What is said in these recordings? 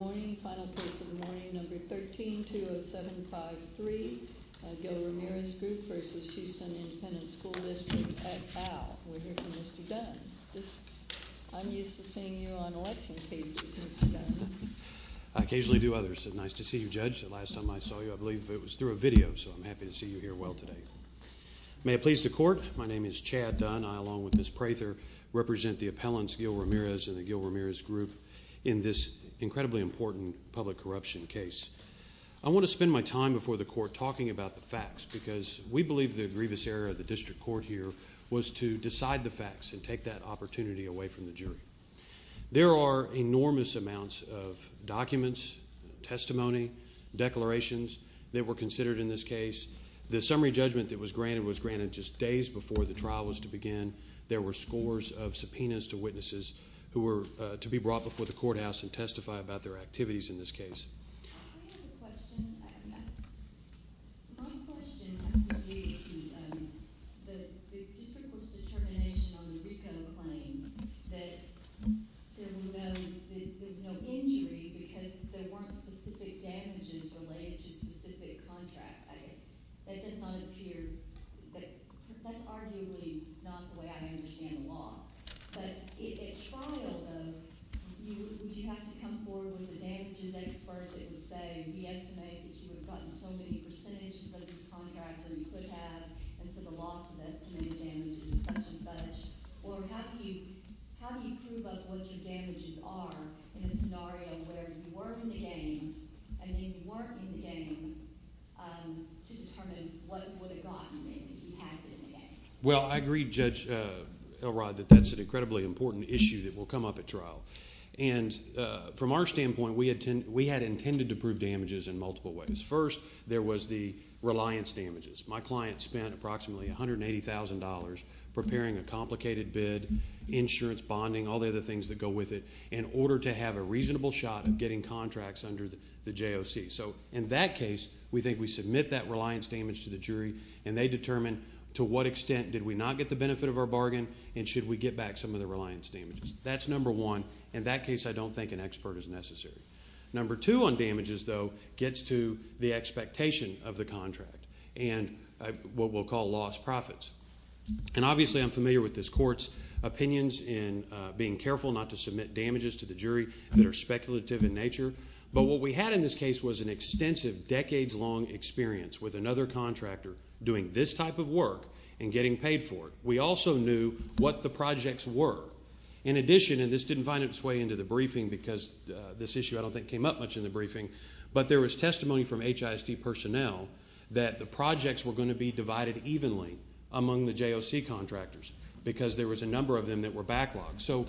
Good morning. Final case of the morning, number 13-20753, Gil Ramirez Group v. Houston Independent School District at AL. We're here for Mr. Dunn. I'm used to seeing you on election cases, Mr. Dunn. I occasionally do others. It's nice to see you, Judge. The last time I saw you, I believe it was through a video, so I'm happy to see you here well today. May it please the Court, my name is Chad Dunn. I, along with Ms. Prather, represent the appellants Gil Ramirez and the Gil Ramirez Group in this incredibly important public corruption case. I want to spend my time before the Court talking about the facts because we believe the grievous error of the District Court here was to decide the facts and take that opportunity away from the jury. There are enormous amounts of documents, testimony, declarations that were considered in this case. The summary judgment that was granted was granted just days before the trial was to begin. There were scores of subpoenas to witnesses who were to be brought before the courthouse and testify about their activities in this case. I have a question. My question has to do with the District Court's determination on the RICO claim that there's no injury because there weren't specific damages related to a specific contract. That does not appear – that's arguably not the way I understand the law. But at trial, though, would you have to come forward with the damages that it's worth? It would say, we estimate that you have gotten so many percentages of these contracts that you could have, and so the loss of estimated damages is such and such. Or how do you prove up what your damages are in a scenario where you were in the game and then you weren't in the game to determine what would have gotten you if you had been in the game? Well, I agree, Judge Elrod, that that's an incredibly important issue that will come up at trial. And from our standpoint, we had intended to prove damages in multiple ways. First, there was the reliance damages. My client spent approximately $180,000 preparing a complicated bid, insurance, bonding, all the other things that go with it, in order to have a reasonable shot of getting contracts under the JOC. So in that case, we think we submit that reliance damage to the jury, and they determine to what extent did we not get the benefit of our bargain, and should we get back some of the reliance damages. That's number one. In that case, I don't think an expert is necessary. Number two on damages, though, gets to the expectation of the contract and what we'll call lost profits. And obviously, I'm familiar with this court's opinions in being careful not to submit damages to the jury that are speculative in nature. But what we had in this case was an extensive, decades-long experience with another contractor doing this type of work and getting paid for it. We also knew what the projects were. In addition, and this didn't find its way into the briefing because this issue I don't think came up much in the briefing, but there was testimony from HISD personnel that the projects were going to be divided evenly among the JOC contractors because there was a number of them that were backlogged. So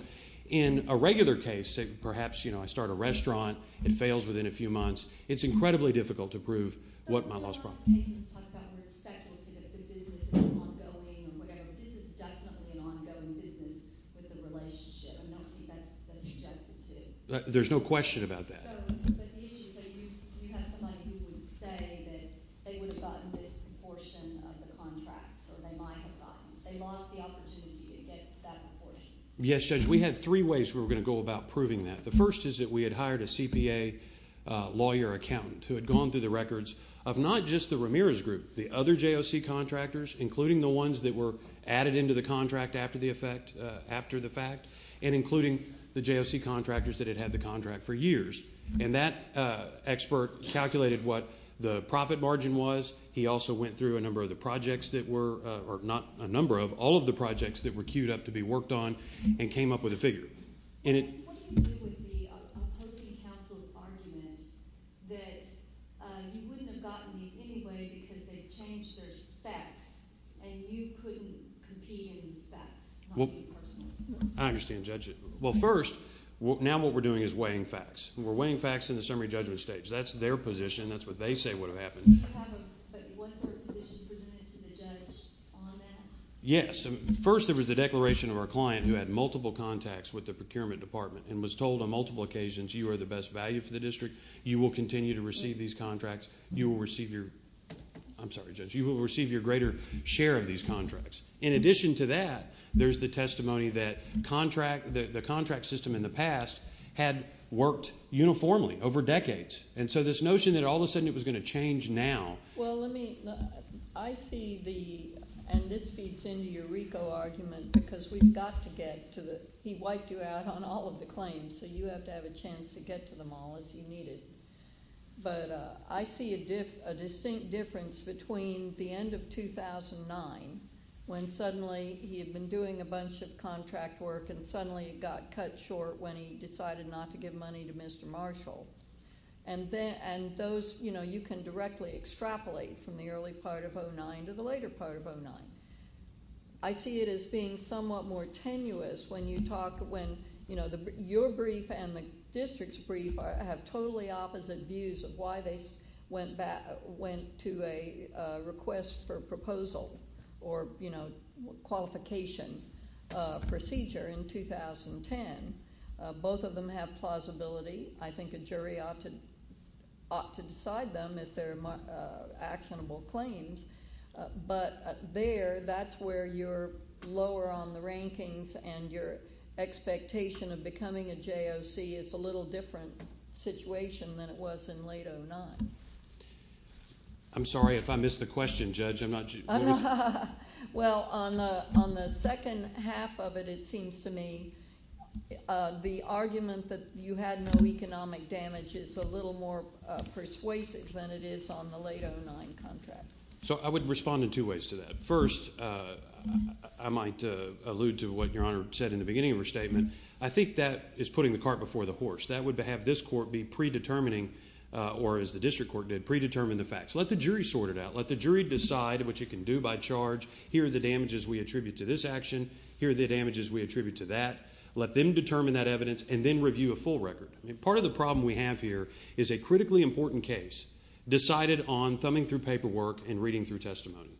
in a regular case, perhaps, you know, I start a restaurant, it fails within a few months, it's incredibly difficult to prove what my lost profit is. So in a lot of cases, we talk about respectability, that the business is ongoing, but this is definitely an ongoing business with the relationship. I don't see that's objected to. There's no question about that. But the issue is that you have somebody who would say that they would have gotten this proportion of the contracts or they might have gotten. They lost the opportunity to get that proportion. Yes, Judge, we had three ways we were going to go about proving that. The first is that we had hired a CPA lawyer accountant who had gone through the records of not just the Ramirez Group, the other JOC contractors, including the ones that were added into the contract after the fact, and including the JOC contractors that had had the contract for years. And that expert calculated what the profit margin was. He also went through a number of the projects that were, or not a number of, all of the projects that were queued up to be worked on and came up with a figure. What do you do with the opposing counsel's argument that you wouldn't have gotten these anyway because they changed their specs and you couldn't compete in specs, not you personally? I understand, Judge. Well, first, now what we're doing is weighing facts. We're weighing facts in the summary judgment stage. That's their position. That's what they say would have happened. But was there a position presented to the judge on that? Yes. First, there was the declaration of our client who had multiple contacts with the procurement department and was told on multiple occasions, you are the best value for the district. You will continue to receive these contracts. You will receive your greater share of these contracts. In addition to that, there's the testimony that the contract system in the past had worked uniformly over decades. And so this notion that all of a sudden it was going to change now. Well, let me – I see the – and this feeds into your RICO argument because we've got to get to the – he wiped you out on all of the claims, so you have to have a chance to get to them all as you need it. But I see a distinct difference between the end of 2009 when suddenly he had been doing a bunch of contract work and suddenly it got cut short when he decided not to give money to Mr. Marshall. And those – you can directly extrapolate from the early part of 2009 to the later part of 2009. I see it as being somewhat more tenuous when you talk – when your brief and the district's brief have totally opposite views of why they went to a request for proposal or qualification procedure in 2010. Both of them have plausibility. I think a jury ought to decide them if they're actionable claims. But there, that's where you're lower on the rankings and your expectation of becoming a JOC is a little different situation than it was in late 2009. I'm sorry if I missed the question, Judge. I'm not – Well, on the second half of it, it seems to me the argument that you had no economic damage is a little more persuasive than it is on the late 2009 contract. So I would respond in two ways to that. First, I might allude to what Your Honor said in the beginning of her statement. I think that is putting the cart before the horse. That would have this court be predetermining or, as the district court did, predetermine the facts. Let the jury sort it out. Let the jury decide what you can do by charge. Here are the damages we attribute to this action. Here are the damages we attribute to that. Let them determine that evidence and then review a full record. Part of the problem we have here is a critically important case decided on thumbing through paperwork and reading through testimony.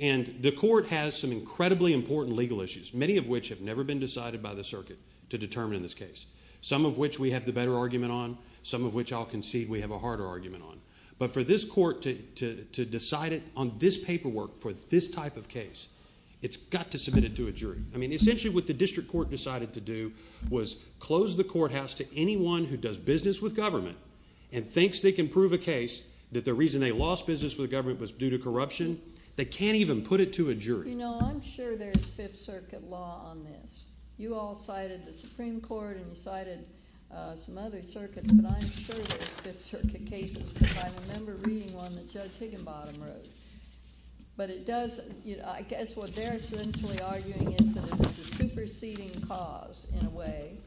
And the court has some incredibly important legal issues, many of which have never been decided by the circuit to determine this case, some of which we have the better argument on, some of which I'll concede we have a harder argument on. But for this court to decide it on this paperwork for this type of case, it's got to submit it to a jury. I mean essentially what the district court decided to do was close the courthouse to anyone who does business with government and thinks they can prove a case that the reason they lost business with government was due to corruption. They can't even put it to a jury. You know, I'm sure there's Fifth Circuit law on this. You all cited the Supreme Court and you cited some other circuits, but I'm sure there's Fifth Circuit cases because I remember reading one that Judge Higginbottom wrote. But it does – I guess what they're essentially arguing is that it was a superseding cause in a way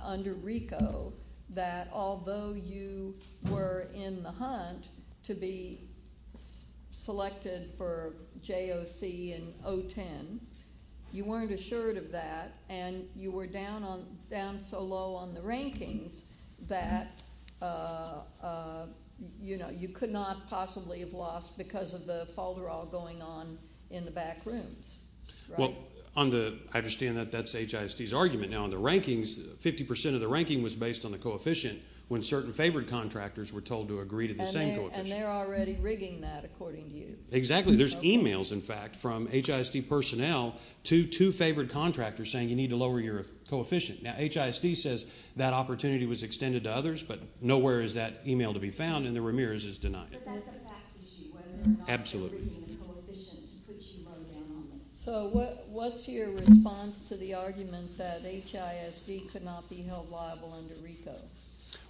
under RICO that although you were in the hunt to be selected for JOC in 010, you weren't assured of that, and you were down so low on the rankings that you could not possibly have lost because of the falderaw going on in the back rooms. Well, on the – I understand that that's HISD's argument. Now on the rankings, 50% of the ranking was based on the coefficient when certain favored contractors were told to agree to the same coefficient. And they're already rigging that according to you. Exactly. There's emails, in fact, from HISD personnel to two favored contractors saying you need to lower your coefficient. Now HISD says that opportunity was extended to others, but nowhere is that email to be found, and the Ramirez is denying it. But that's a fact issue. Absolutely. So what's your response to the argument that HISD could not be held liable under RICO?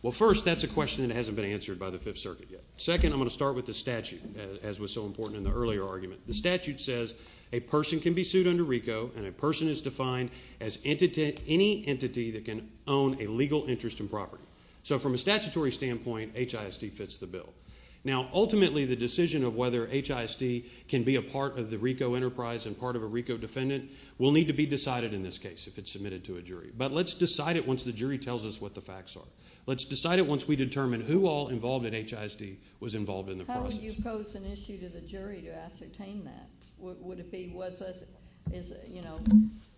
Well, first, that's a question that hasn't been answered by the Fifth Circuit yet. Second, I'm going to start with the statute, as was so important in the earlier argument. The statute says a person can be sued under RICO, and a person is defined as any entity that can own a legal interest in property. So from a statutory standpoint, HISD fits the bill. Now, ultimately, the decision of whether HISD can be a part of the RICO enterprise and part of a RICO defendant will need to be decided in this case if it's submitted to a jury. But let's decide it once the jury tells us what the facts are. Let's decide it once we determine who all involved in HISD was involved in the process. How would you pose an issue to the jury to ascertain that? Would it be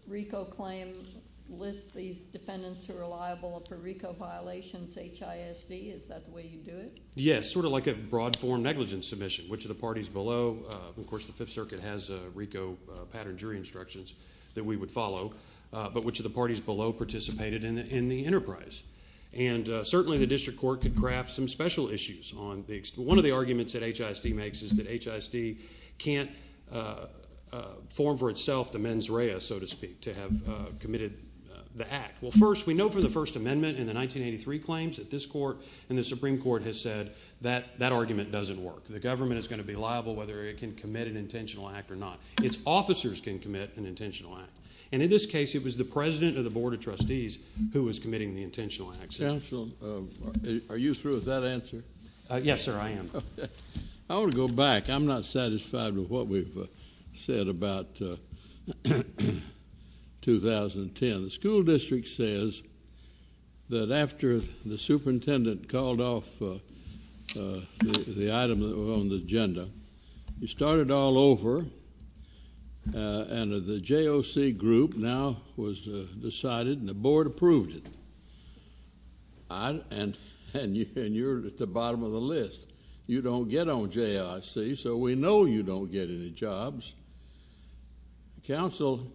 RICO claims list these defendants who are liable for RICO violations HISD? Is that the way you do it? Yes, sort of like a broad form negligence submission. Which of the parties below? Of course, the Fifth Circuit has RICO pattern jury instructions that we would follow. But which of the parties below participated in the enterprise? And certainly, the district court could craft some special issues. One of the arguments that HISD makes is that HISD can't form for itself the mens rea, so to speak, to have committed the act. Well, first, we know from the First Amendment in the 1983 claims that this court and the Supreme Court has said that that argument doesn't work. The government is going to be liable whether it can commit an intentional act or not. Its officers can commit an intentional act. And in this case, it was the president of the Board of Trustees who was committing the intentional act. Counsel, are you through with that answer? Yes, sir, I am. I want to go back. I'm not satisfied with what we've said about 2010. The school district says that after the superintendent called off the item on the agenda, he started all over, and the JOC group now was decided and the board approved it. And you're at the bottom of the list. You don't get on JOC, so we know you don't get any jobs. Counsel,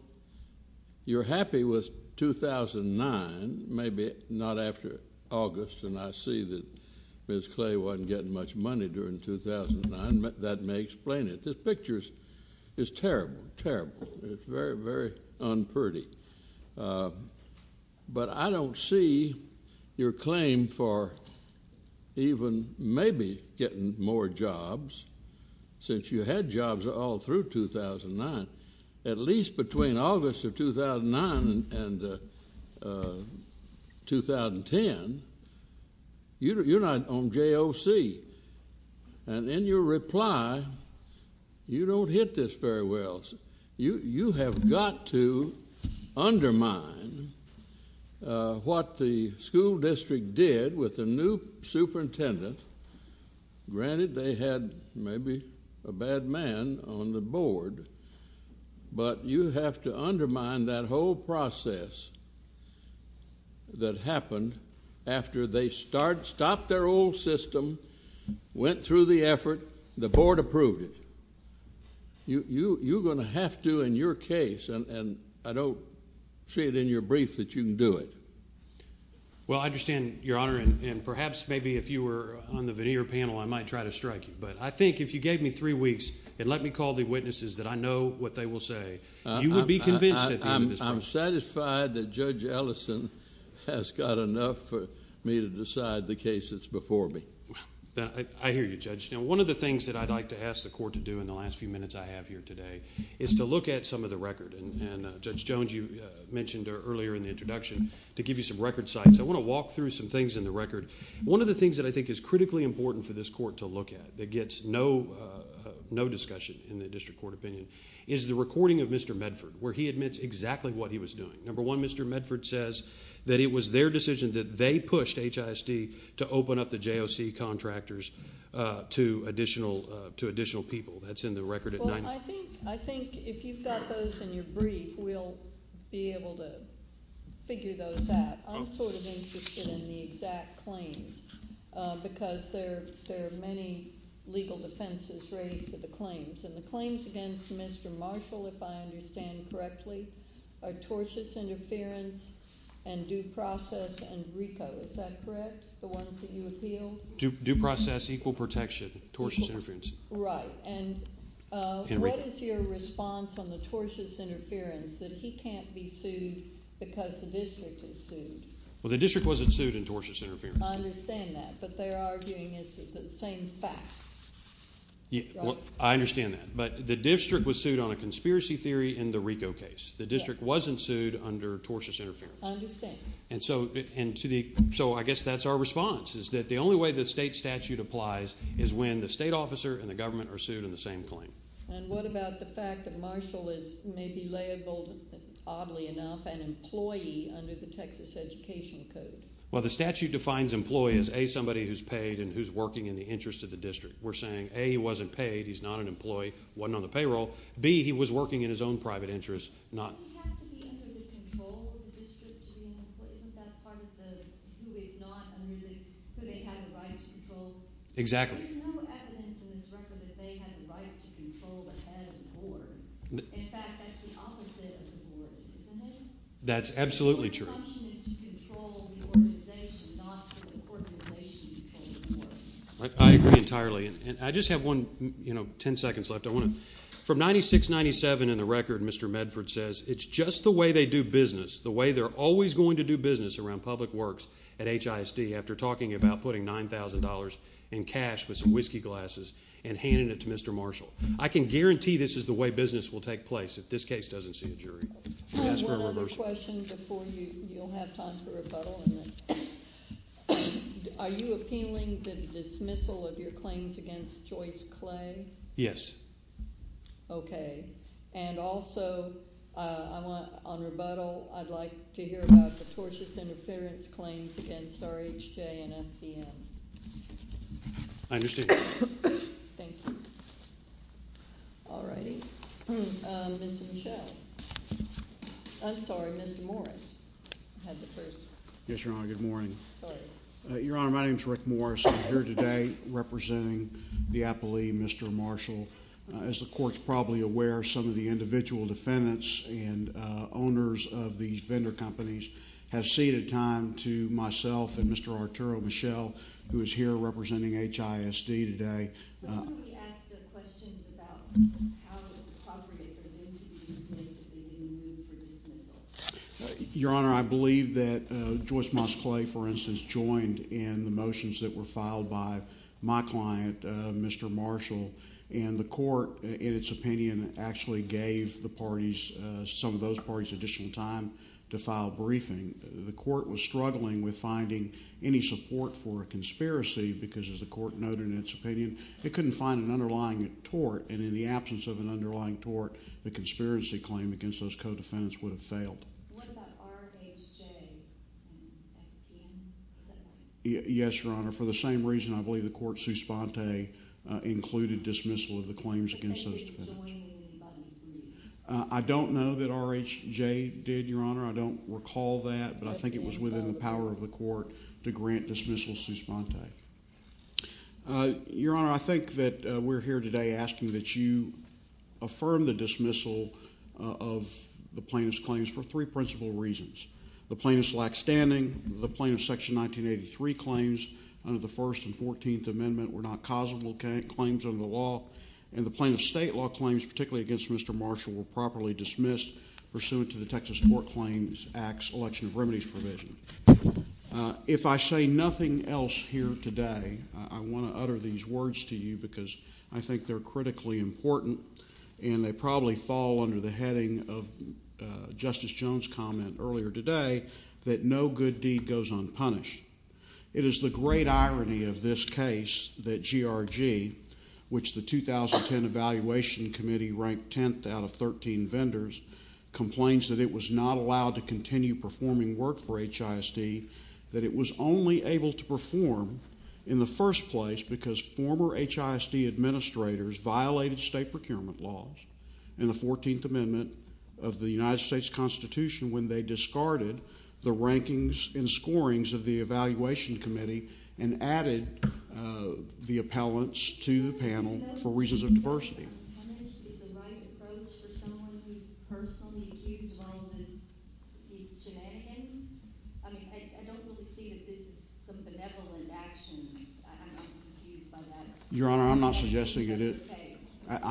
you're happy with 2009, maybe not after August, and I see that Ms. Clay wasn't getting much money during 2009. That may explain it. This picture is terrible, terrible. It's very, very unpretty. But I don't see your claim for even maybe getting more jobs since you had jobs all through 2009. At least between August of 2009 and 2010, you're not on JOC. And in your reply, you don't hit this very well. You have got to undermine what the school district did with the new superintendent. Granted, they had maybe a bad man on the board, but you have to undermine that whole process that happened after they stopped their old system, went through the effort, the board approved it. You're going to have to in your case, and I don't see it in your brief, that you can do it. Well, I understand, Your Honor, and perhaps maybe if you were on the veneer panel, I might try to strike you. But I think if you gave me three weeks and let me call the witnesses that I know what they will say, you would be convinced at the end of this process. I'm satisfied that Judge Ellison has got enough for me to decide the case that's before me. I hear you, Judge. Now, one of the things that I'd like to ask the court to do in the last few minutes I have here today is to look at some of the record. And, Judge Jones, you mentioned earlier in the introduction to give you some record sites. I want to walk through some things in the record. One of the things that I think is critically important for this court to look at that gets no discussion in the district court opinion is the recording of Mr. Medford where he admits exactly what he was doing. Number one, Mr. Medford says that it was their decision that they pushed HISD to open up the JOC contractors to additional people. That's in the record at 90. Well, I think if you've got those in your brief, we'll be able to figure those out. I'm sort of interested in the exact claims because there are many legal defenses raised to the claims. And the claims against Mr. Marshall, if I understand correctly, are tortious interference and due process and RICO. Is that correct? The ones that you appealed? Due process, equal protection, tortious interference. Right. And what is your response on the tortious interference that he can't be sued because the district is sued? Well, the district wasn't sued in tortious interference. I understand that. But they're arguing it's the same facts. I understand that. But the district was sued on a conspiracy theory in the RICO case. The district wasn't sued under tortious interference. I understand. And so I guess that's our response is that the only way the state statute applies is when the state officer and the government are sued on the same claim. And what about the fact that Marshall may be labeled, oddly enough, an employee under the Texas Education Code? Well, the statute defines employee as, A, somebody who's paid and who's working in the interest of the district. We're saying, A, he wasn't paid. He's not an employee. Wasn't on the payroll. B, he was working in his own private interest. Does he have to be under the control of the district to be an employee? Isn't that part of the, who is not under the, who they have the right to control? Exactly. There's no evidence in this record that they have the right to control the head of the board. In fact, that's the opposite of the board, isn't it? That's absolutely true. Their function is to control the organization, not for the organization to control the board. I agree entirely. And I just have one, you know, ten seconds left. I want to, from 96-97 in the record, Mr. Medford says it's just the way they do business, the way they're always going to do business around public works at HISD after talking about putting $9,000 in cash with some whiskey glasses and handing it to Mr. Marshall. I can guarantee this is the way business will take place if this case doesn't see a jury. I have one other question before you'll have time for rebuttal. Are you appealing the dismissal of your claims against Joyce Clay? Yes. Okay. And also, I want, on rebuttal, I'd like to hear about the tortious interference claims against RHJ and FDM. I understand. Thank you. All righty. Mr. Michel. I'm sorry. Mr. Morris had the first. Yes, Your Honor. Good morning. Sorry. Your Honor, my name is Rick Morris. I'm here today representing the appellee, Mr. Marshall. As the Court's probably aware, some of the individual defendants and owners of these vendor companies have ceded time to myself and Mr. Arturo Michel, who is here representing HISD today. So, let me ask the question about how does the property permit to be dismissed if they didn't move for dismissal? Your Honor, I believe that Joyce Moss Clay, for instance, joined in the motions that were filed by my client, Mr. Marshall, and the Court, in its opinion, actually gave the parties, some of those parties, additional time to file briefing. The Court was struggling with finding any support for a conspiracy because, as the Court noted in its opinion, it couldn't find an underlying tort, and in the absence of an underlying tort, the conspiracy claim against those co-defendants would have failed. What about RHJ and FDM? Yes, Your Honor. For the same reason, I believe the Court, Suspante, included dismissal of the claims against those defendants. But they didn't join in the motions. I don't know that RHJ did, Your Honor. I don't recall that, but I think it was within the power of the Court to grant dismissal of Suspante. Your Honor, I think that we're here today asking that you affirm the dismissal of the plaintiff's claims for three principal reasons. The plaintiff's lack standing, the plaintiff's Section 1983 claims under the First and Fourteenth Amendment were not causable claims under the law, and the plaintiff's state law claims, particularly against Mr. Marshall, were properly dismissed pursuant to the Texas Court Claims Act's election of remedies provision. If I say nothing else here today, I want to utter these words to you because I think they're critically important, and they probably fall under the heading of Justice Jones' comment earlier today that no good deed goes unpunished. It is the great irony of this case that GRG, which the 2010 Evaluation Committee ranked 10th out of 13 vendors, complains that it was not allowed to continue performing work for HISD, that it was only able to perform in the first place because former HISD administrators violated state procurement laws in the Fourteenth Amendment of the United States Constitution when they discarded the rankings and scorings of the Evaluation Committee and added the appellants to the panel for reasons of diversity. Your Honor, is the right approach for someone who's personally accused of all of these shenanigans? I mean, I don't really see that this is some benevolent action. I'm not confused by that. Your Honor, I'm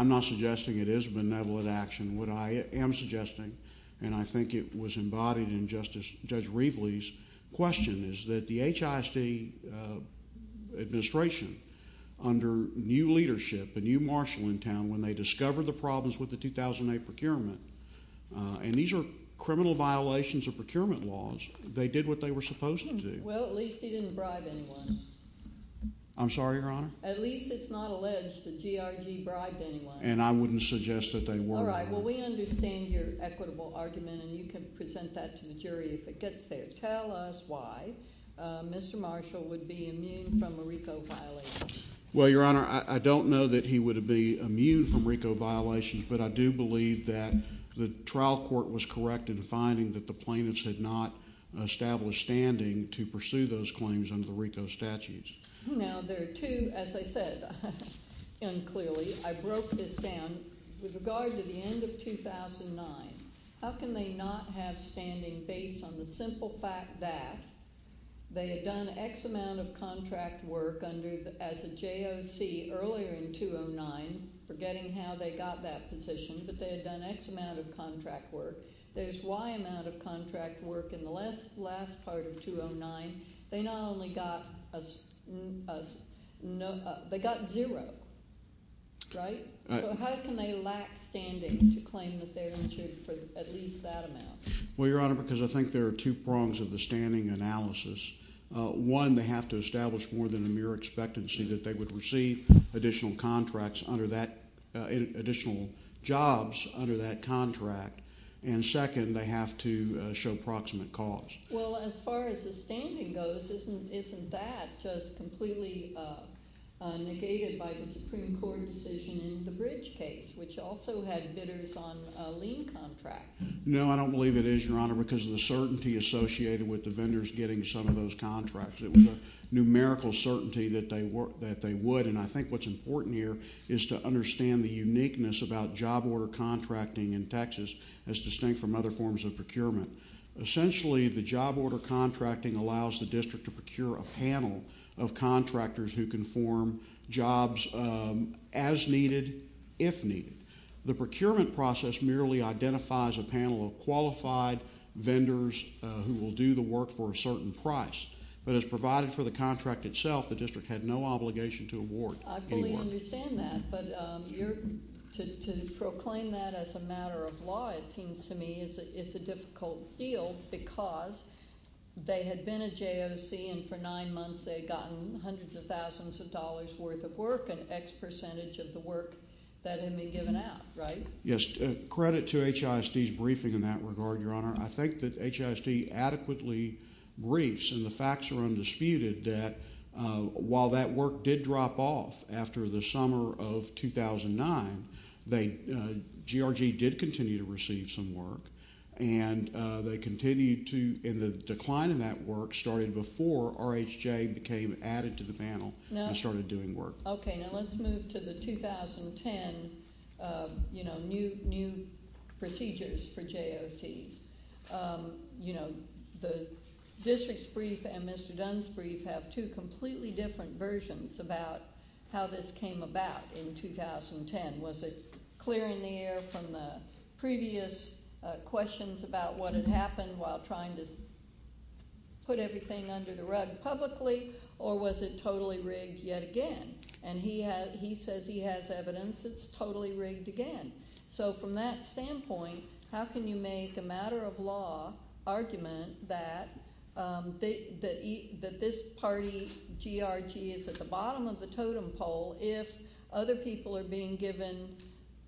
not suggesting it is benevolent action. What I am suggesting, and I think it was embodied in Judge Reveley's question, is that the HISD administration, under new leadership, a new marshal in town, when they discovered the problems with the 2008 procurement, and these are criminal violations of procurement laws, they did what they were supposed to do. Well, at least he didn't bribe anyone. I'm sorry, Your Honor? At least it's not alleged that GRG bribed anyone. And I wouldn't suggest that they were. All right, well, we understand your equitable argument, and you can present that to the jury if it gets there. Tell us why Mr. Marshall would be immune from a RICO violation. Well, Your Honor, I don't know that he would be immune from RICO violations, but I do believe that the trial court was correct in finding that the plaintiffs had not established standing to pursue those claims under the RICO statutes. Now, there are two, as I said unclearly, I broke this down. With regard to the end of 2009, how can they not have standing based on the simple fact that they had done X amount of contract work as a JOC earlier in 2009, forgetting how they got that position, but they had done X amount of contract work. There's Y amount of contract work in the last part of 2009. They not only got a no, they got zero, right? So how can they lack standing to claim that they're injured for at least that amount? Well, Your Honor, because I think there are two prongs of the standing analysis. One, they have to establish more than a mere expectancy that they would receive additional contracts under that, additional jobs under that contract. And second, they have to show proximate cause. Well, as far as the standing goes, isn't that just completely negated by the Supreme Court decision in the Bridge case, which also had bidders on a lien contract? No, I don't believe it is, Your Honor, because of the certainty associated with the vendors getting some of those contracts. It was a numerical certainty that they would. And I think what's important here is to understand the uniqueness about job order contracting in Texas as distinct from other forms of procurement. Essentially, the job order contracting allows the district to procure a panel of contractors who can form jobs as needed, if needed. The procurement process merely identifies a panel of qualified vendors who will do the work for a certain price. But as provided for the contract itself, the district had no obligation to award any work. I fully understand that. But to proclaim that as a matter of law, it seems to me, is a difficult deal because they had been a JOC, and for nine months they had gotten hundreds of thousands of dollars' worth of work, an X percentage of the work that had been given out, right? Yes. Credit to HISD's briefing in that regard, Your Honor. I think that HISD adequately briefs, and the facts are undisputed, that while that work did drop off after the summer of 2009, GRG did continue to receive some work. And they continued to, and the decline in that work started before RHJ became added to the panel and started doing work. Okay, now let's move to the 2010, you know, new procedures for JOCs. You know, the district's brief and Mr. Dunn's brief have two completely different versions about how this came about in 2010. Was it clear in the air from the previous questions about what had happened while trying to put everything under the rug publicly, or was it totally rigged yet again? And he says he has evidence it's totally rigged again. So from that standpoint, how can you make a matter-of-law argument that this party, GRG, is at the bottom of the totem pole if other people are being given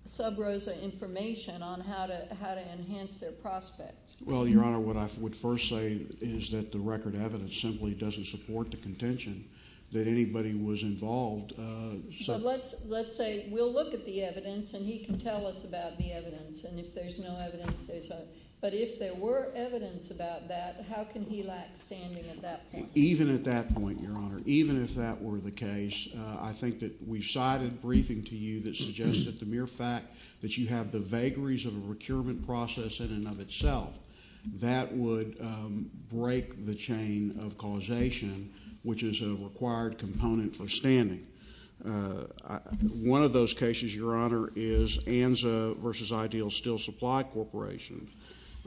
sub rosa information on how to enhance their prospects? Well, Your Honor, what I would first say is that the record evidence simply doesn't support the contention that anybody was involved. But let's say we'll look at the evidence and he can tell us about the evidence, and if there's no evidence, say so. But if there were evidence about that, how can he lack standing at that point? Even at that point, Your Honor, even if that were the case, I think that we've cited briefing to you that suggests that the mere fact that you have the vagaries of a procurement process in and of itself, that would break the chain of causation, which is a required component for standing. One of those cases, Your Honor, is Anza v. Ideal Steel Supply Corporation,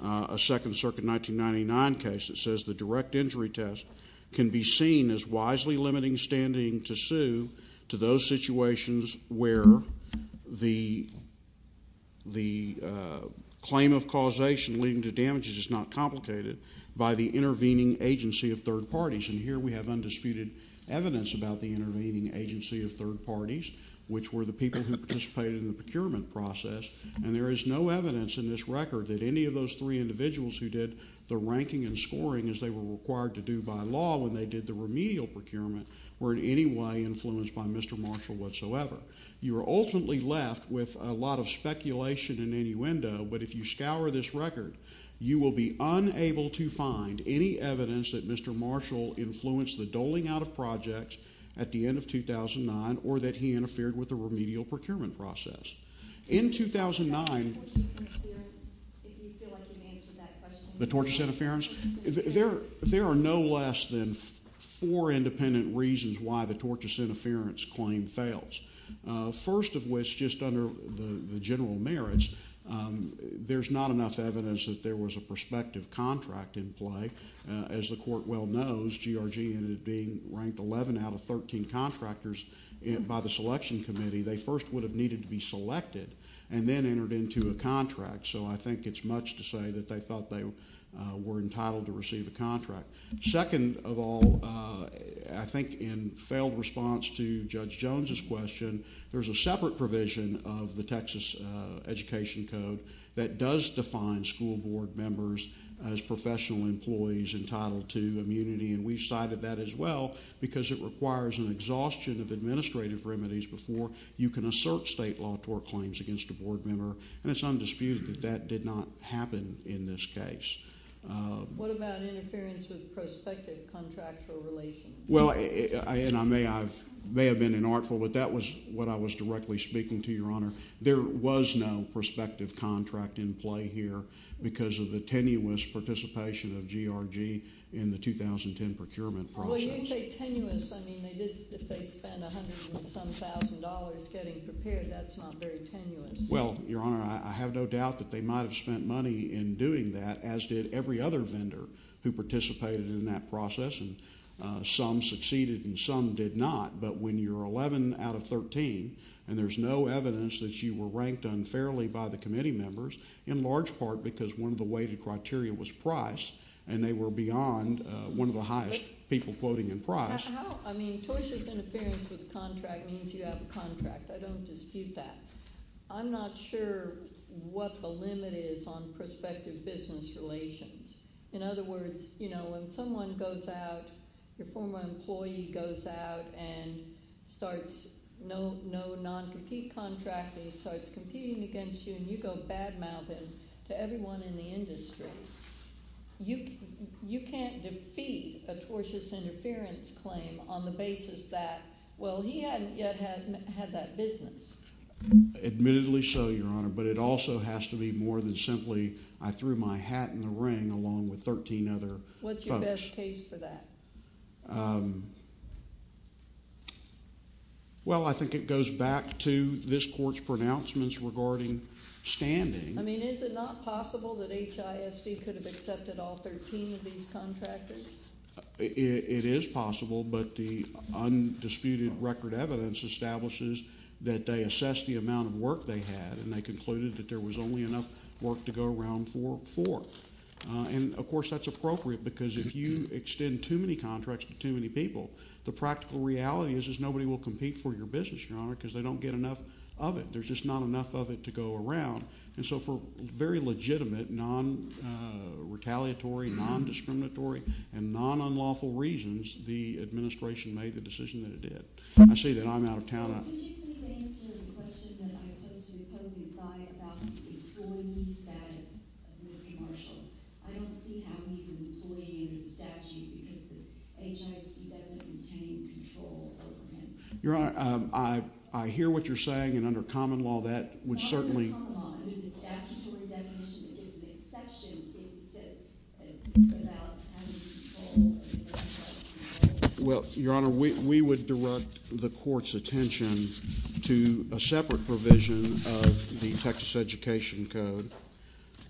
a Second Circuit 1999 case that says the direct injury test can be seen as wisely limiting standing to sue to those situations where the claim of causation leading to damages is not complicated by the intervening agency of third parties. And here we have undisputed evidence about the intervening agency of third parties, which were the people who participated in the procurement process. And there is no evidence in this record that any of those three individuals who did the ranking as they were required to do by law when they did the remedial procurement were in any way influenced by Mr. Marshall whatsoever. You are ultimately left with a lot of speculation and innuendo, but if you scour this record, you will be unable to find any evidence that Mr. Marshall influenced the doling out of projects at the end of 2009 or that he interfered with the remedial procurement process. In 2009, the tortious interference, there are no less than four independent reasons why the tortious interference claim fails. First of which, just under the general merits, there's not enough evidence that there was a prospective contract in play. As the court well knows, GRG ended up being ranked 11 out of 13 contractors by the selection committee. They first would have needed to be selected and then entered into a contract. So I think it's much to say that they thought they were entitled to receive a contract. Second of all, I think in failed response to Judge Jones's question, there's a separate provision of the Texas Education Code that does define school board members as professional employees entitled to immunity. And we've cited that as well because it requires an exhaustion of administrative remedies before you can assert state law tort claims against a board member. And it's undisputed that that did not happen in this case. What about interference with prospective contracts or relations? Well, and I may have been inartful, but that was what I was directly speaking to, Your Honor. There was no prospective contract in play here because of the tenuous participation of GRG in the 2010 procurement process. Well, you didn't say tenuous. I mean, they did spend a hundred and some thousand dollars getting prepared. That's not very tenuous. Well, Your Honor, I have no doubt that they might have spent money in doing that, as did every other vendor who participated in that process. And some succeeded and some did not. But when you're 11 out of 13 and there's no evidence that you were ranked unfairly by the committee members, in large part because one of the weighted criteria was price and they were beyond one of the highest people quoting in price. I mean, Tosha's interference with the contract means you have a contract. I don't dispute that. I'm not sure what the limit is on prospective business relations. In other words, you know, when someone goes out, your former employee goes out and starts no non-compete contract and he starts competing against you and you go bad-mouthing to everyone in the industry, you can't defeat a Tosha's interference claim on the basis that, well, he hadn't yet had that business. But it also has to be more than simply I threw my hat in the ring along with 13 other folks. What's your best case for that? Well, I think it goes back to this Court's pronouncements regarding standing. I mean, is it not possible that HISD could have accepted all 13 of these contractors? It is possible, but the undisputed record evidence establishes that they assessed the amount of work they had and they concluded that there was only enough work to go around for four. And, of course, that's appropriate because if you extend too many contracts to too many people, the practical reality is nobody will compete for your business, Your Honor, because they don't get enough of it. There's just not enough of it to go around. And so for very legitimate, non-retaliatory, non-discriminatory, and non-unlawful reasons, the administration made the decision that it did. I say that I'm out of town. Could you please answer the question that I posed to the opposing side about the employee status of Mr. Marshall? I don't see how he's an employee under the statute because the HISD doesn't contain control over him. Your Honor, I hear what you're saying, and under common law, that would certainly Not under common law. Under the statutory definition, it is an exception. It exists without any control over him. Well, Your Honor, we would direct the Court's attention to a separate provision of the Texas Education Code,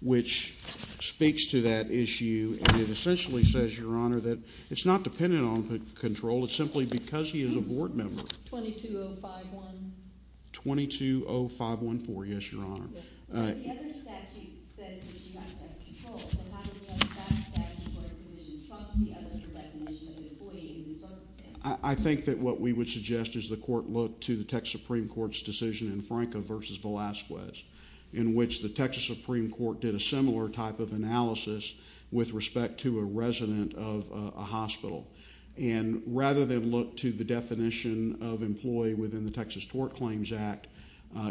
which speaks to that issue, and it essentially says, Your Honor, that it's not dependent on control. It's simply because he is a board member. 22051. 220514, yes, Your Honor. The other statute says that you have to have control, so how do we know that that statutory provision trumps the other definition of employee in this circumstance? I think that what we would suggest is the Court look to the Texas Supreme Court's decision in Franca v. Velazquez, in which the Texas Supreme Court did a similar type of analysis with respect to a resident of a hospital, and rather than look to the definition of employee within the Texas Tort Claims Act,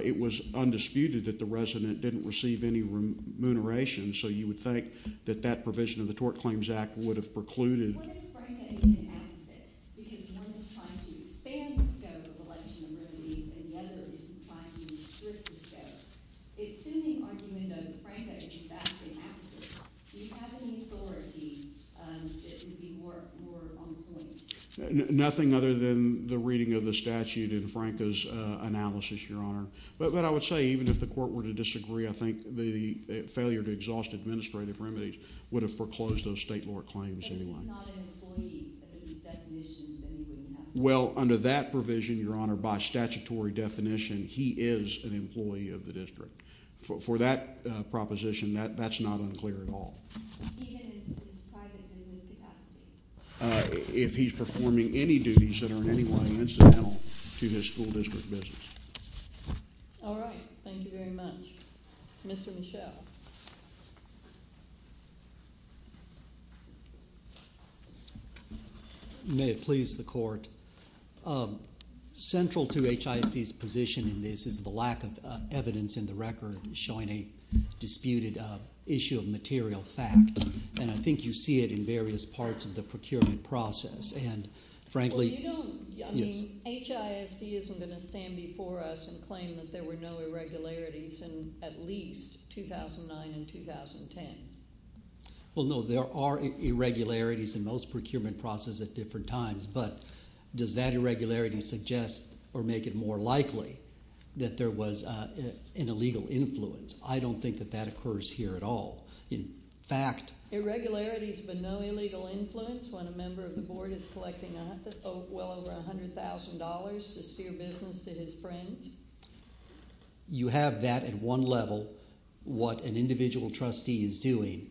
it was undisputed that the resident didn't receive any remuneration, so you would think that that provision of the Tort Claims Act would have precluded What if Franca is the opposite? Because one is trying to expand the scope of election remedy, and the other is trying to restrict the scope. Assuming argument of Franca is exactly the opposite, do you have any authority that would be more on point? Nothing other than the reading of the statute in Franca's analysis, Your Honor. But I would say even if the Court were to disagree, I think the failure to exhaust administrative remedies would have foreclosed those state law claims anyway. He's not an employee under these definitions anyway. Well, under that provision, Your Honor, by statutory definition, he is an employee of the district. For that proposition, that's not unclear at all. Even in his private business capacity? If he's performing any duties that are in any way incidental to his school district business. All right. Thank you very much. Mr. Michel. May it please the Court. Central to HISD's position in this is the lack of evidence in the record showing a disputed issue of material fact. And I think you see it in various parts of the procurement process. Well, you don't. HISD isn't going to stand before us and claim that there were no irregularities in at least 2009 and 2010. Well, no, there are irregularities in most procurement processes at different times. But does that irregularity suggest or make it more likely that there was an illegal influence? I don't think that that occurs here at all. In fact— Irregularities but no illegal influence when a member of the Board is collecting well over $100,000 to steer business to his friends? You have that at one level, what an individual trustee is doing.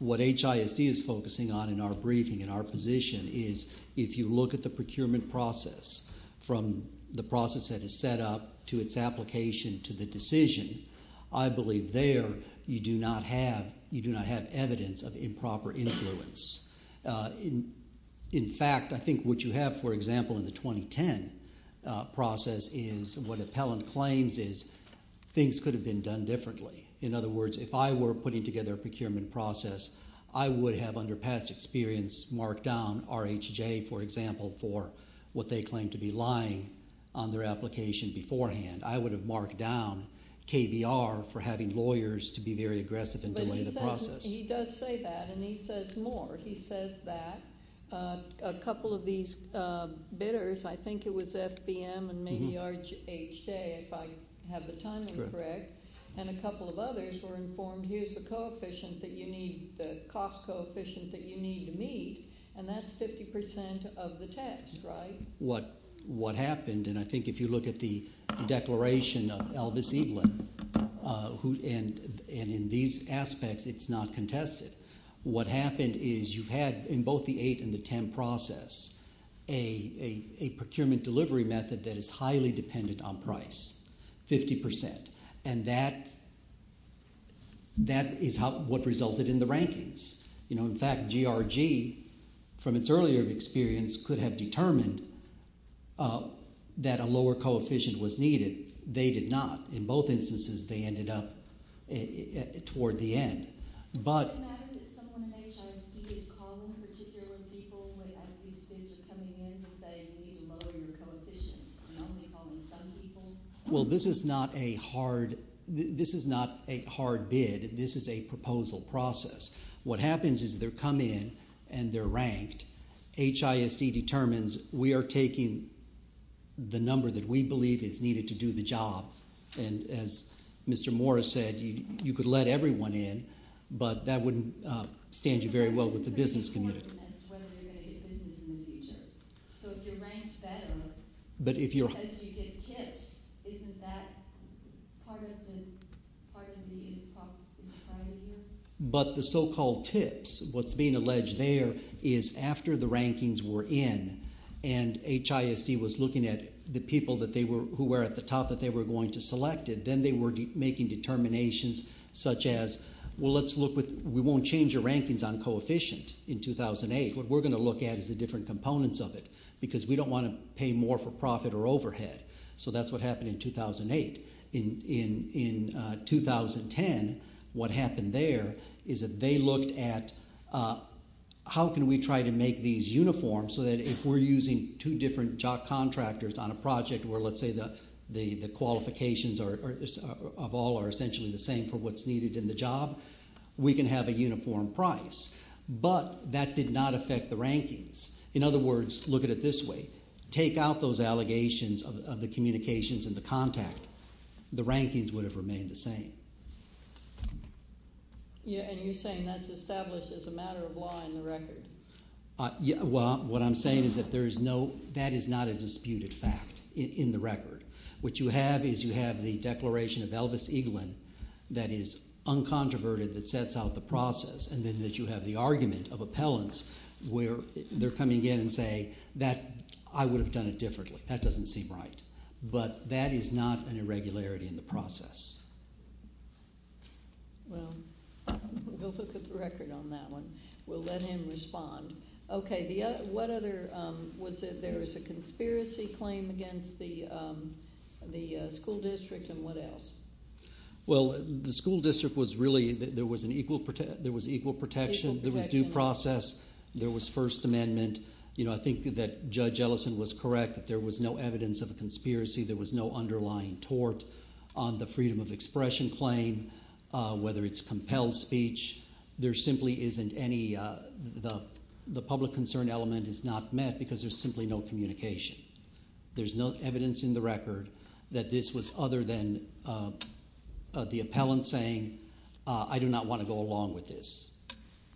What HISD is focusing on in our briefing, in our position, is if you look at the procurement process, from the process that is set up to its application to the decision, I believe there you do not have evidence of improper influence. In fact, I think what you have, for example, in the 2010 process is what appellant claims is things could have been done differently. In other words, if I were putting together a procurement process, I would have under past experience marked down RHJ, for example, for what they claimed to be lying on their application beforehand. I would have marked down KBR for having lawyers to be very aggressive and delay the process. He does say that, and he says more. He says that a couple of these bidders, I think it was FBM and maybe RHJ, if I have the timing correct, and a couple of others were informed here's the coefficient that you need, the cost coefficient that you need to meet, and that's 50% of the test, right? What happened, and I think if you look at the declaration of Elvis Eaglin, and in these aspects it's not contested. What happened is you've had in both the 8 and the 10 process a procurement delivery method that is highly dependent on price, 50%. And that is what resulted in the rankings. In fact, GRG, from its earlier experience, could have determined that a lower coefficient was needed. They did not. In both instances they ended up toward the end. Does it matter that someone in HISD is calling particular people as these bids are coming in to say you need to lower your coefficient? You're normally calling some people. Well, this is not a hard bid. This is a proposal process. What happens is they come in and they're ranked. HISD determines we are taking the number that we believe is needed to do the job, and as Mr. Morris said, you could let everyone in, but that wouldn't stand you very well with the business community. It's important as to whether you're going to get business in the future. So if you're ranked better because you get tips, isn't that part of the priority here? But the so-called tips, what's being alleged there is after the rankings were in and HISD was looking at the people who were at the top that they were going to select, then they were making determinations such as, well, let's look with we won't change the rankings on coefficient in 2008. What we're going to look at is the different components of it because we don't want to pay more for profit or overhead. So that's what happened in 2008. In 2010, what happened there is that they looked at how can we try to make these uniform so that if we're using two different contractors on a project where, let's say, the qualifications of all are essentially the same for what's needed in the job, we can have a uniform price. But that did not affect the rankings. In other words, look at it this way. Take out those allegations of the communications and the contact. The rankings would have remained the same. And you're saying that's established as a matter of law in the record? Well, what I'm saying is that there is no – that is not a disputed fact in the record. What you have is you have the declaration of Elvis Eaglin that is uncontroverted, that sets out the process, and then that you have the argument of appellants where they're coming in and say that I would have done it differently. That doesn't seem right. But that is not an irregularity in the process. Well, we'll look at the record on that one. We'll let him respond. Okay, what other – was it there was a conspiracy claim against the school district and what else? Well, the school district was really – there was equal protection. There was due process. There was First Amendment. I think that Judge Ellison was correct that there was no evidence of a conspiracy. There was no underlying tort on the freedom of expression claim, whether it's compelled speech. There simply isn't any – the public concern element is not met because there's simply no communication. There's no evidence in the record that this was other than the appellant saying, I do not want to go along with this,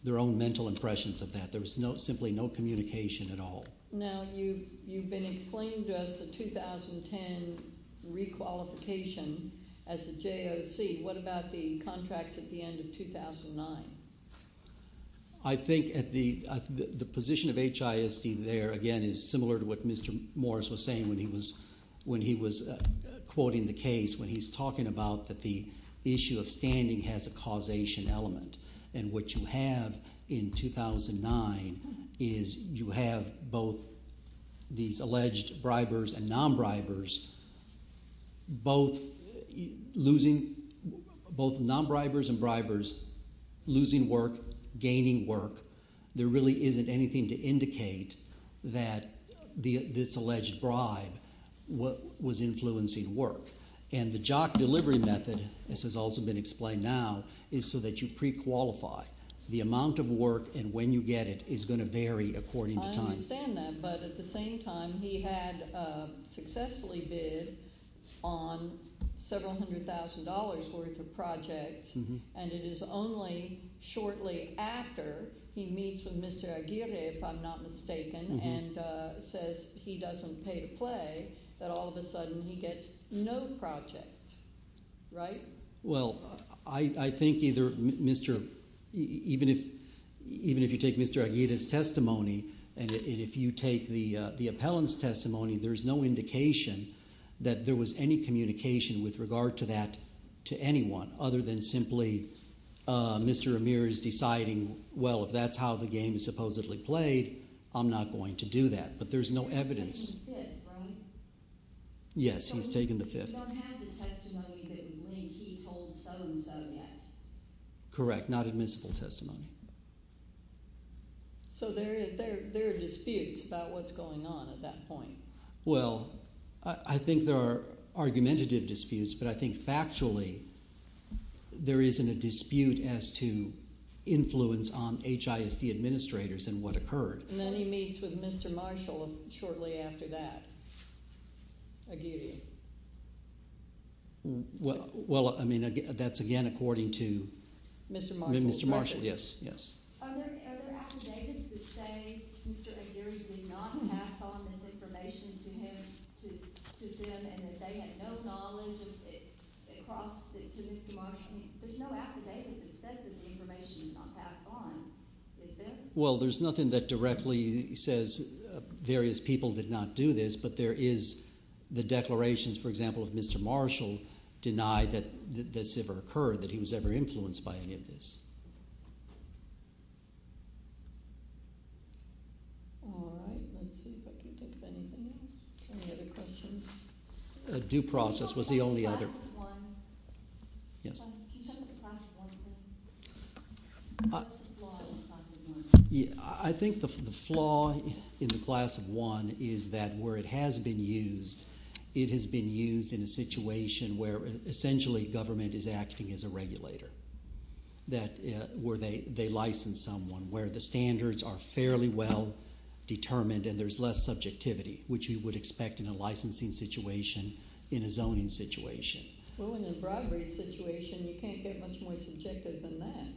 their own mental impressions of that. There was simply no communication at all. Now, you've been explaining to us the 2010 requalification as a JOC. What about the contracts at the end of 2009? I think the position of HISD there, again, is similar to what Mr. Morris was saying when he was quoting the case when he's talking about that the issue of standing has a causation element, and what you have in 2009 is you have both these alleged bribers and non-bribers both losing – both non-bribers and bribers losing work, gaining work. There really isn't anything to indicate that this alleged bribe was influencing work. And the JOC delivery method, as has also been explained now, is so that you prequalify. The amount of work and when you get it is going to vary according to time. I understand that, but at the same time he had successfully bid on several hundred thousand dollars' worth of projects, and it is only shortly after he meets with Mr. Aguirre, if I'm not mistaken, and says he doesn't pay to play that all of a sudden he gets no projects, right? Well, I think either Mr. – even if you take Mr. Aguirre's testimony and if you take the appellant's testimony, there's no indication that there was any communication with regard to that to anyone other than simply Mr. Amir's deciding, well, if that's how the game is supposedly played, I'm not going to do that. But there's no evidence. He's taken the fifth, right? Yes, he's taken the fifth. But you don't have the testimony that he told so-and-so yet. Correct, not admissible testimony. So there are disputes about what's going on at that point. Well, I think there are argumentative disputes, but I think factually there isn't a dispute as to influence on HISD administrators and what occurred. And then he meets with Mr. Marshall shortly after that, Aguirre. Well, I mean, that's again according to Mr. Marshall. Mr. Marshall, yes. Are there affidavits that say Mr. Aguirre did not pass on this information to him, to them, and that they had no knowledge of it across to Mr. Marshall? I mean, there's no affidavit that says that the information was not passed on, is there? Well, there's nothing that directly says various people did not do this, but there is the declarations, for example, of Mr. Marshall denied that this ever occurred, that he was ever influenced by any of this. All right. Let's see if I can think of anything else. Any other questions? Due process was the only other. Yes. I think the flaw in the class of one is that where it has been used, it has been used in a situation where essentially government is acting as a regulator, where they license someone, where the standards are fairly well determined and there's less subjectivity, which you would expect in a licensing situation in a zoning situation. Well, in a bribery situation, you can't get much more subjective than that.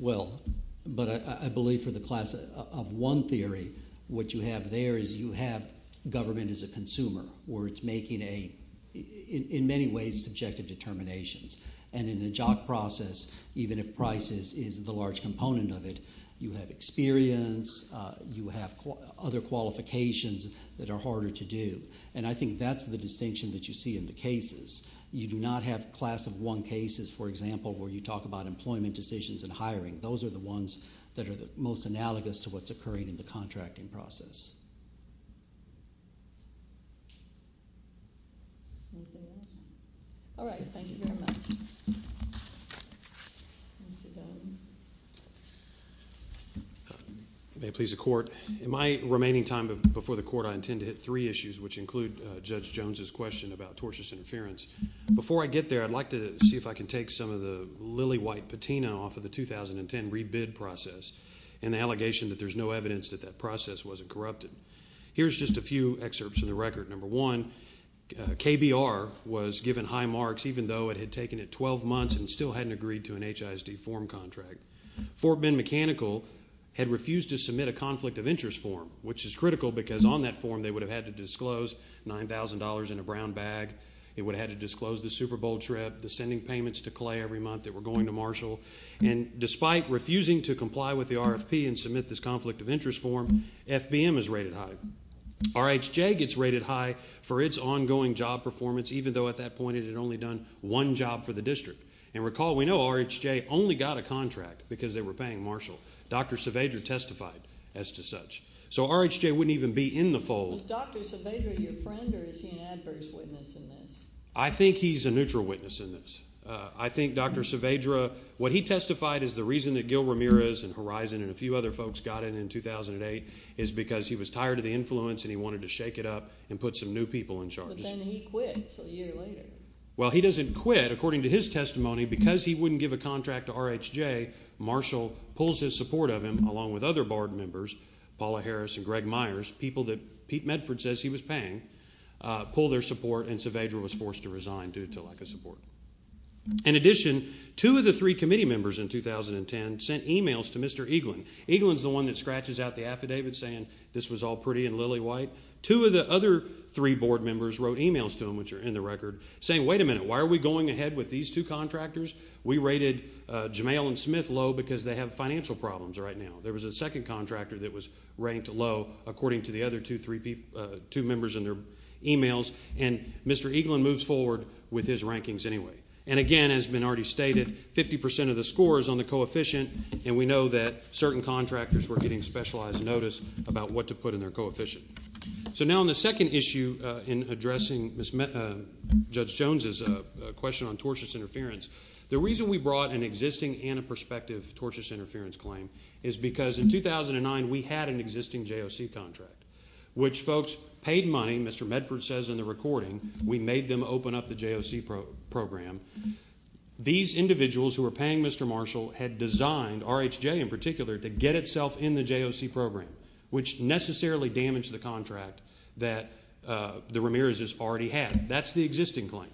Well, but I believe for the class of one theory, what you have there is you have government as a consumer, where it's making a, in many ways, subjective determinations. And in a jock process, even if prices is the large component of it, you have experience, you have other qualifications that are harder to do. And I think that's the distinction that you see in the cases. You do not have class of one cases, for example, where you talk about employment decisions and hiring. Those are the ones that are the most analogous to what's occurring in the contracting process. Anything else? All right. Thank you very much. May it please the Court. In my remaining time before the Court, I intend to hit three issues, which include Judge Jones' question about tortious interference. Before I get there, I'd like to see if I can take some of the lily-white patina off of the 2010 rebid process and the allegation that there's no evidence that that process wasn't corrupted. Here's just a few excerpts of the record. Number one, KBR was given high marks, even though it had taken it 12 months and still hadn't agreed to an HISD form contract. Fort Bend Mechanical had refused to submit a conflict of interest form, which is critical because on that form they would have had to disclose $9,000 in a brown bag. It would have had to disclose the Super Bowl trip, the sending payments to Clay every month that were going to Marshall. And despite refusing to comply with the RFP and submit this conflict of interest form, FBM is rated high. RHJ gets rated high for its ongoing job performance, even though at that point it had only done one job for the district. And recall we know RHJ only got a contract because they were paying Marshall. Dr. Saavedra testified as to such. So RHJ wouldn't even be in the fold. Is Dr. Saavedra your friend, or is he an adverse witness in this? I think he's a neutral witness in this. I think Dr. Saavedra, what he testified is the reason that Gil Ramirez and Horizon and a few other folks got in in 2008 is because he was tired of the influence and he wanted to shake it up and put some new people in charge. But then he quit a year later. Well, he doesn't quit. According to his testimony, because he wouldn't give a contract to RHJ, Marshall pulls his support of him along with other board members, Paula Harris and Greg Myers, people that Pete Medford says he was paying, pull their support, and Saavedra was forced to resign due to lack of support. In addition, two of the three committee members in 2010 sent e-mails to Mr. Eaglin. Eaglin's the one that scratches out the affidavit saying this was all pretty and lily white. Two of the other three board members wrote e-mails to him, which are in the record, saying wait a minute, why are we going ahead with these two contractors? We rated Jamel and Smith low because they have financial problems right now. There was a second contractor that was ranked low, according to the other two members in their e-mails. And Mr. Eaglin moves forward with his rankings anyway. And, again, as has been already stated, 50% of the score is on the coefficient, and we know that certain contractors were getting specialized notice about what to put in their coefficient. So now on the second issue in addressing Judge Jones's question on tortious interference, the reason we brought an existing and a prospective tortious interference claim is because in 2009 we had an existing JOC contract, which folks paid money, Mr. Medford says in the recording, we made them open up the JOC program. These individuals who were paying Mr. Marshall had designed, RHJ in particular, to get itself in the JOC program, which necessarily damaged the contract that the Ramirez's already had. That's the existing claim.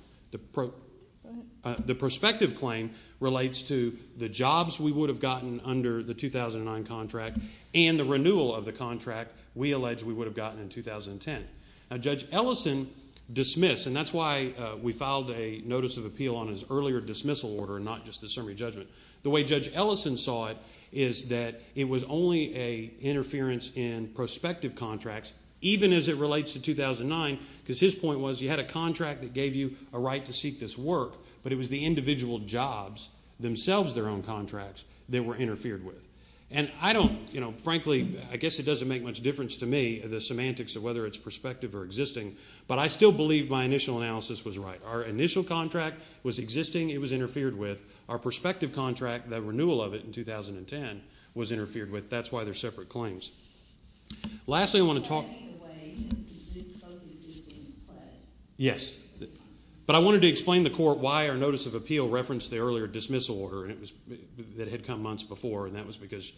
The prospective claim relates to the jobs we would have gotten under the 2009 contract and the renewal of the contract we allege we would have gotten in 2010. Now, Judge Ellison dismissed, and that's why we filed a notice of appeal on his earlier dismissal order and not just the summary judgment. The way Judge Ellison saw it is that it was only an interference in prospective contracts, even as it relates to 2009 because his point was you had a contract that gave you a right to seek this work, but it was the individual jobs, themselves their own contracts, that were interfered with. And I don't, you know, frankly, I guess it doesn't make much difference to me, the semantics of whether it's prospective or existing, but I still believe my initial analysis was right. Our initial contract was existing. It was interfered with. Our prospective contract, the renewal of it in 2010, was interfered with. That's why they're separate claims. Lastly, I want to talk to you. It's both existing and fled. Yes. But I wanted to explain to the court why our notice of appeal referenced the earlier dismissal order that had come months before, and that was because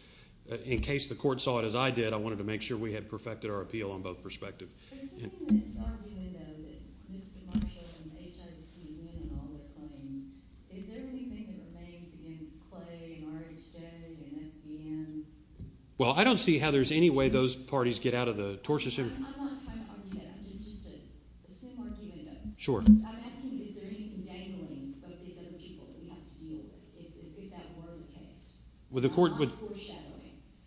in case the court saw it as I did, I wanted to make sure we had perfected our appeal on both prospective. There's something in the argument, though, that Mr. Marshall and H.I. and all their claims, is there anything that remains against Clay and R.H.J. and F.B.N.? Well, I don't see how there's any way those parties get out of the tortious interview. I'm not trying to argue that. It's just a similar argument, though. Sure. I'm asking you, is there anything dangling for these other people that we have to deal with if that were the case?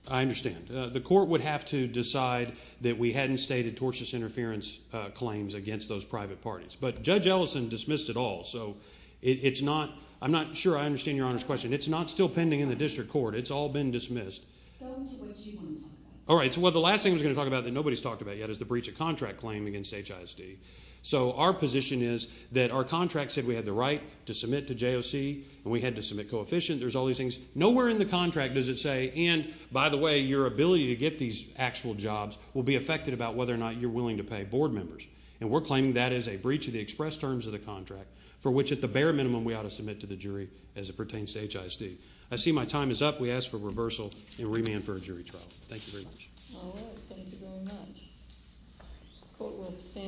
I understand. The court would have to decide that we hadn't stated tortious interference claims against those private parties. But Judge Ellison dismissed it all, so it's not—I'm not sure I understand Your Honor's question. It's not still pending in the district court. It's all been dismissed. What did you want to talk about? All right. Well, the last thing I was going to talk about that nobody's talked about yet is the breach of contract claim against HISD. So our position is that our contract said we had the right to submit to JOC, and we had to submit coefficient. There's all these things. Nowhere in the contract does it say, and by the way, your ability to get these actual jobs will be affected about whether or not you're willing to pay board members. And we're claiming that as a breach of the express terms of the contract for which, at the bare minimum, we ought to submit to the jury as it pertains to HISD. I see my time is up. We ask for reversal and remand for a jury trial. Thank you very much. All right. Thank you very much. Court will stand.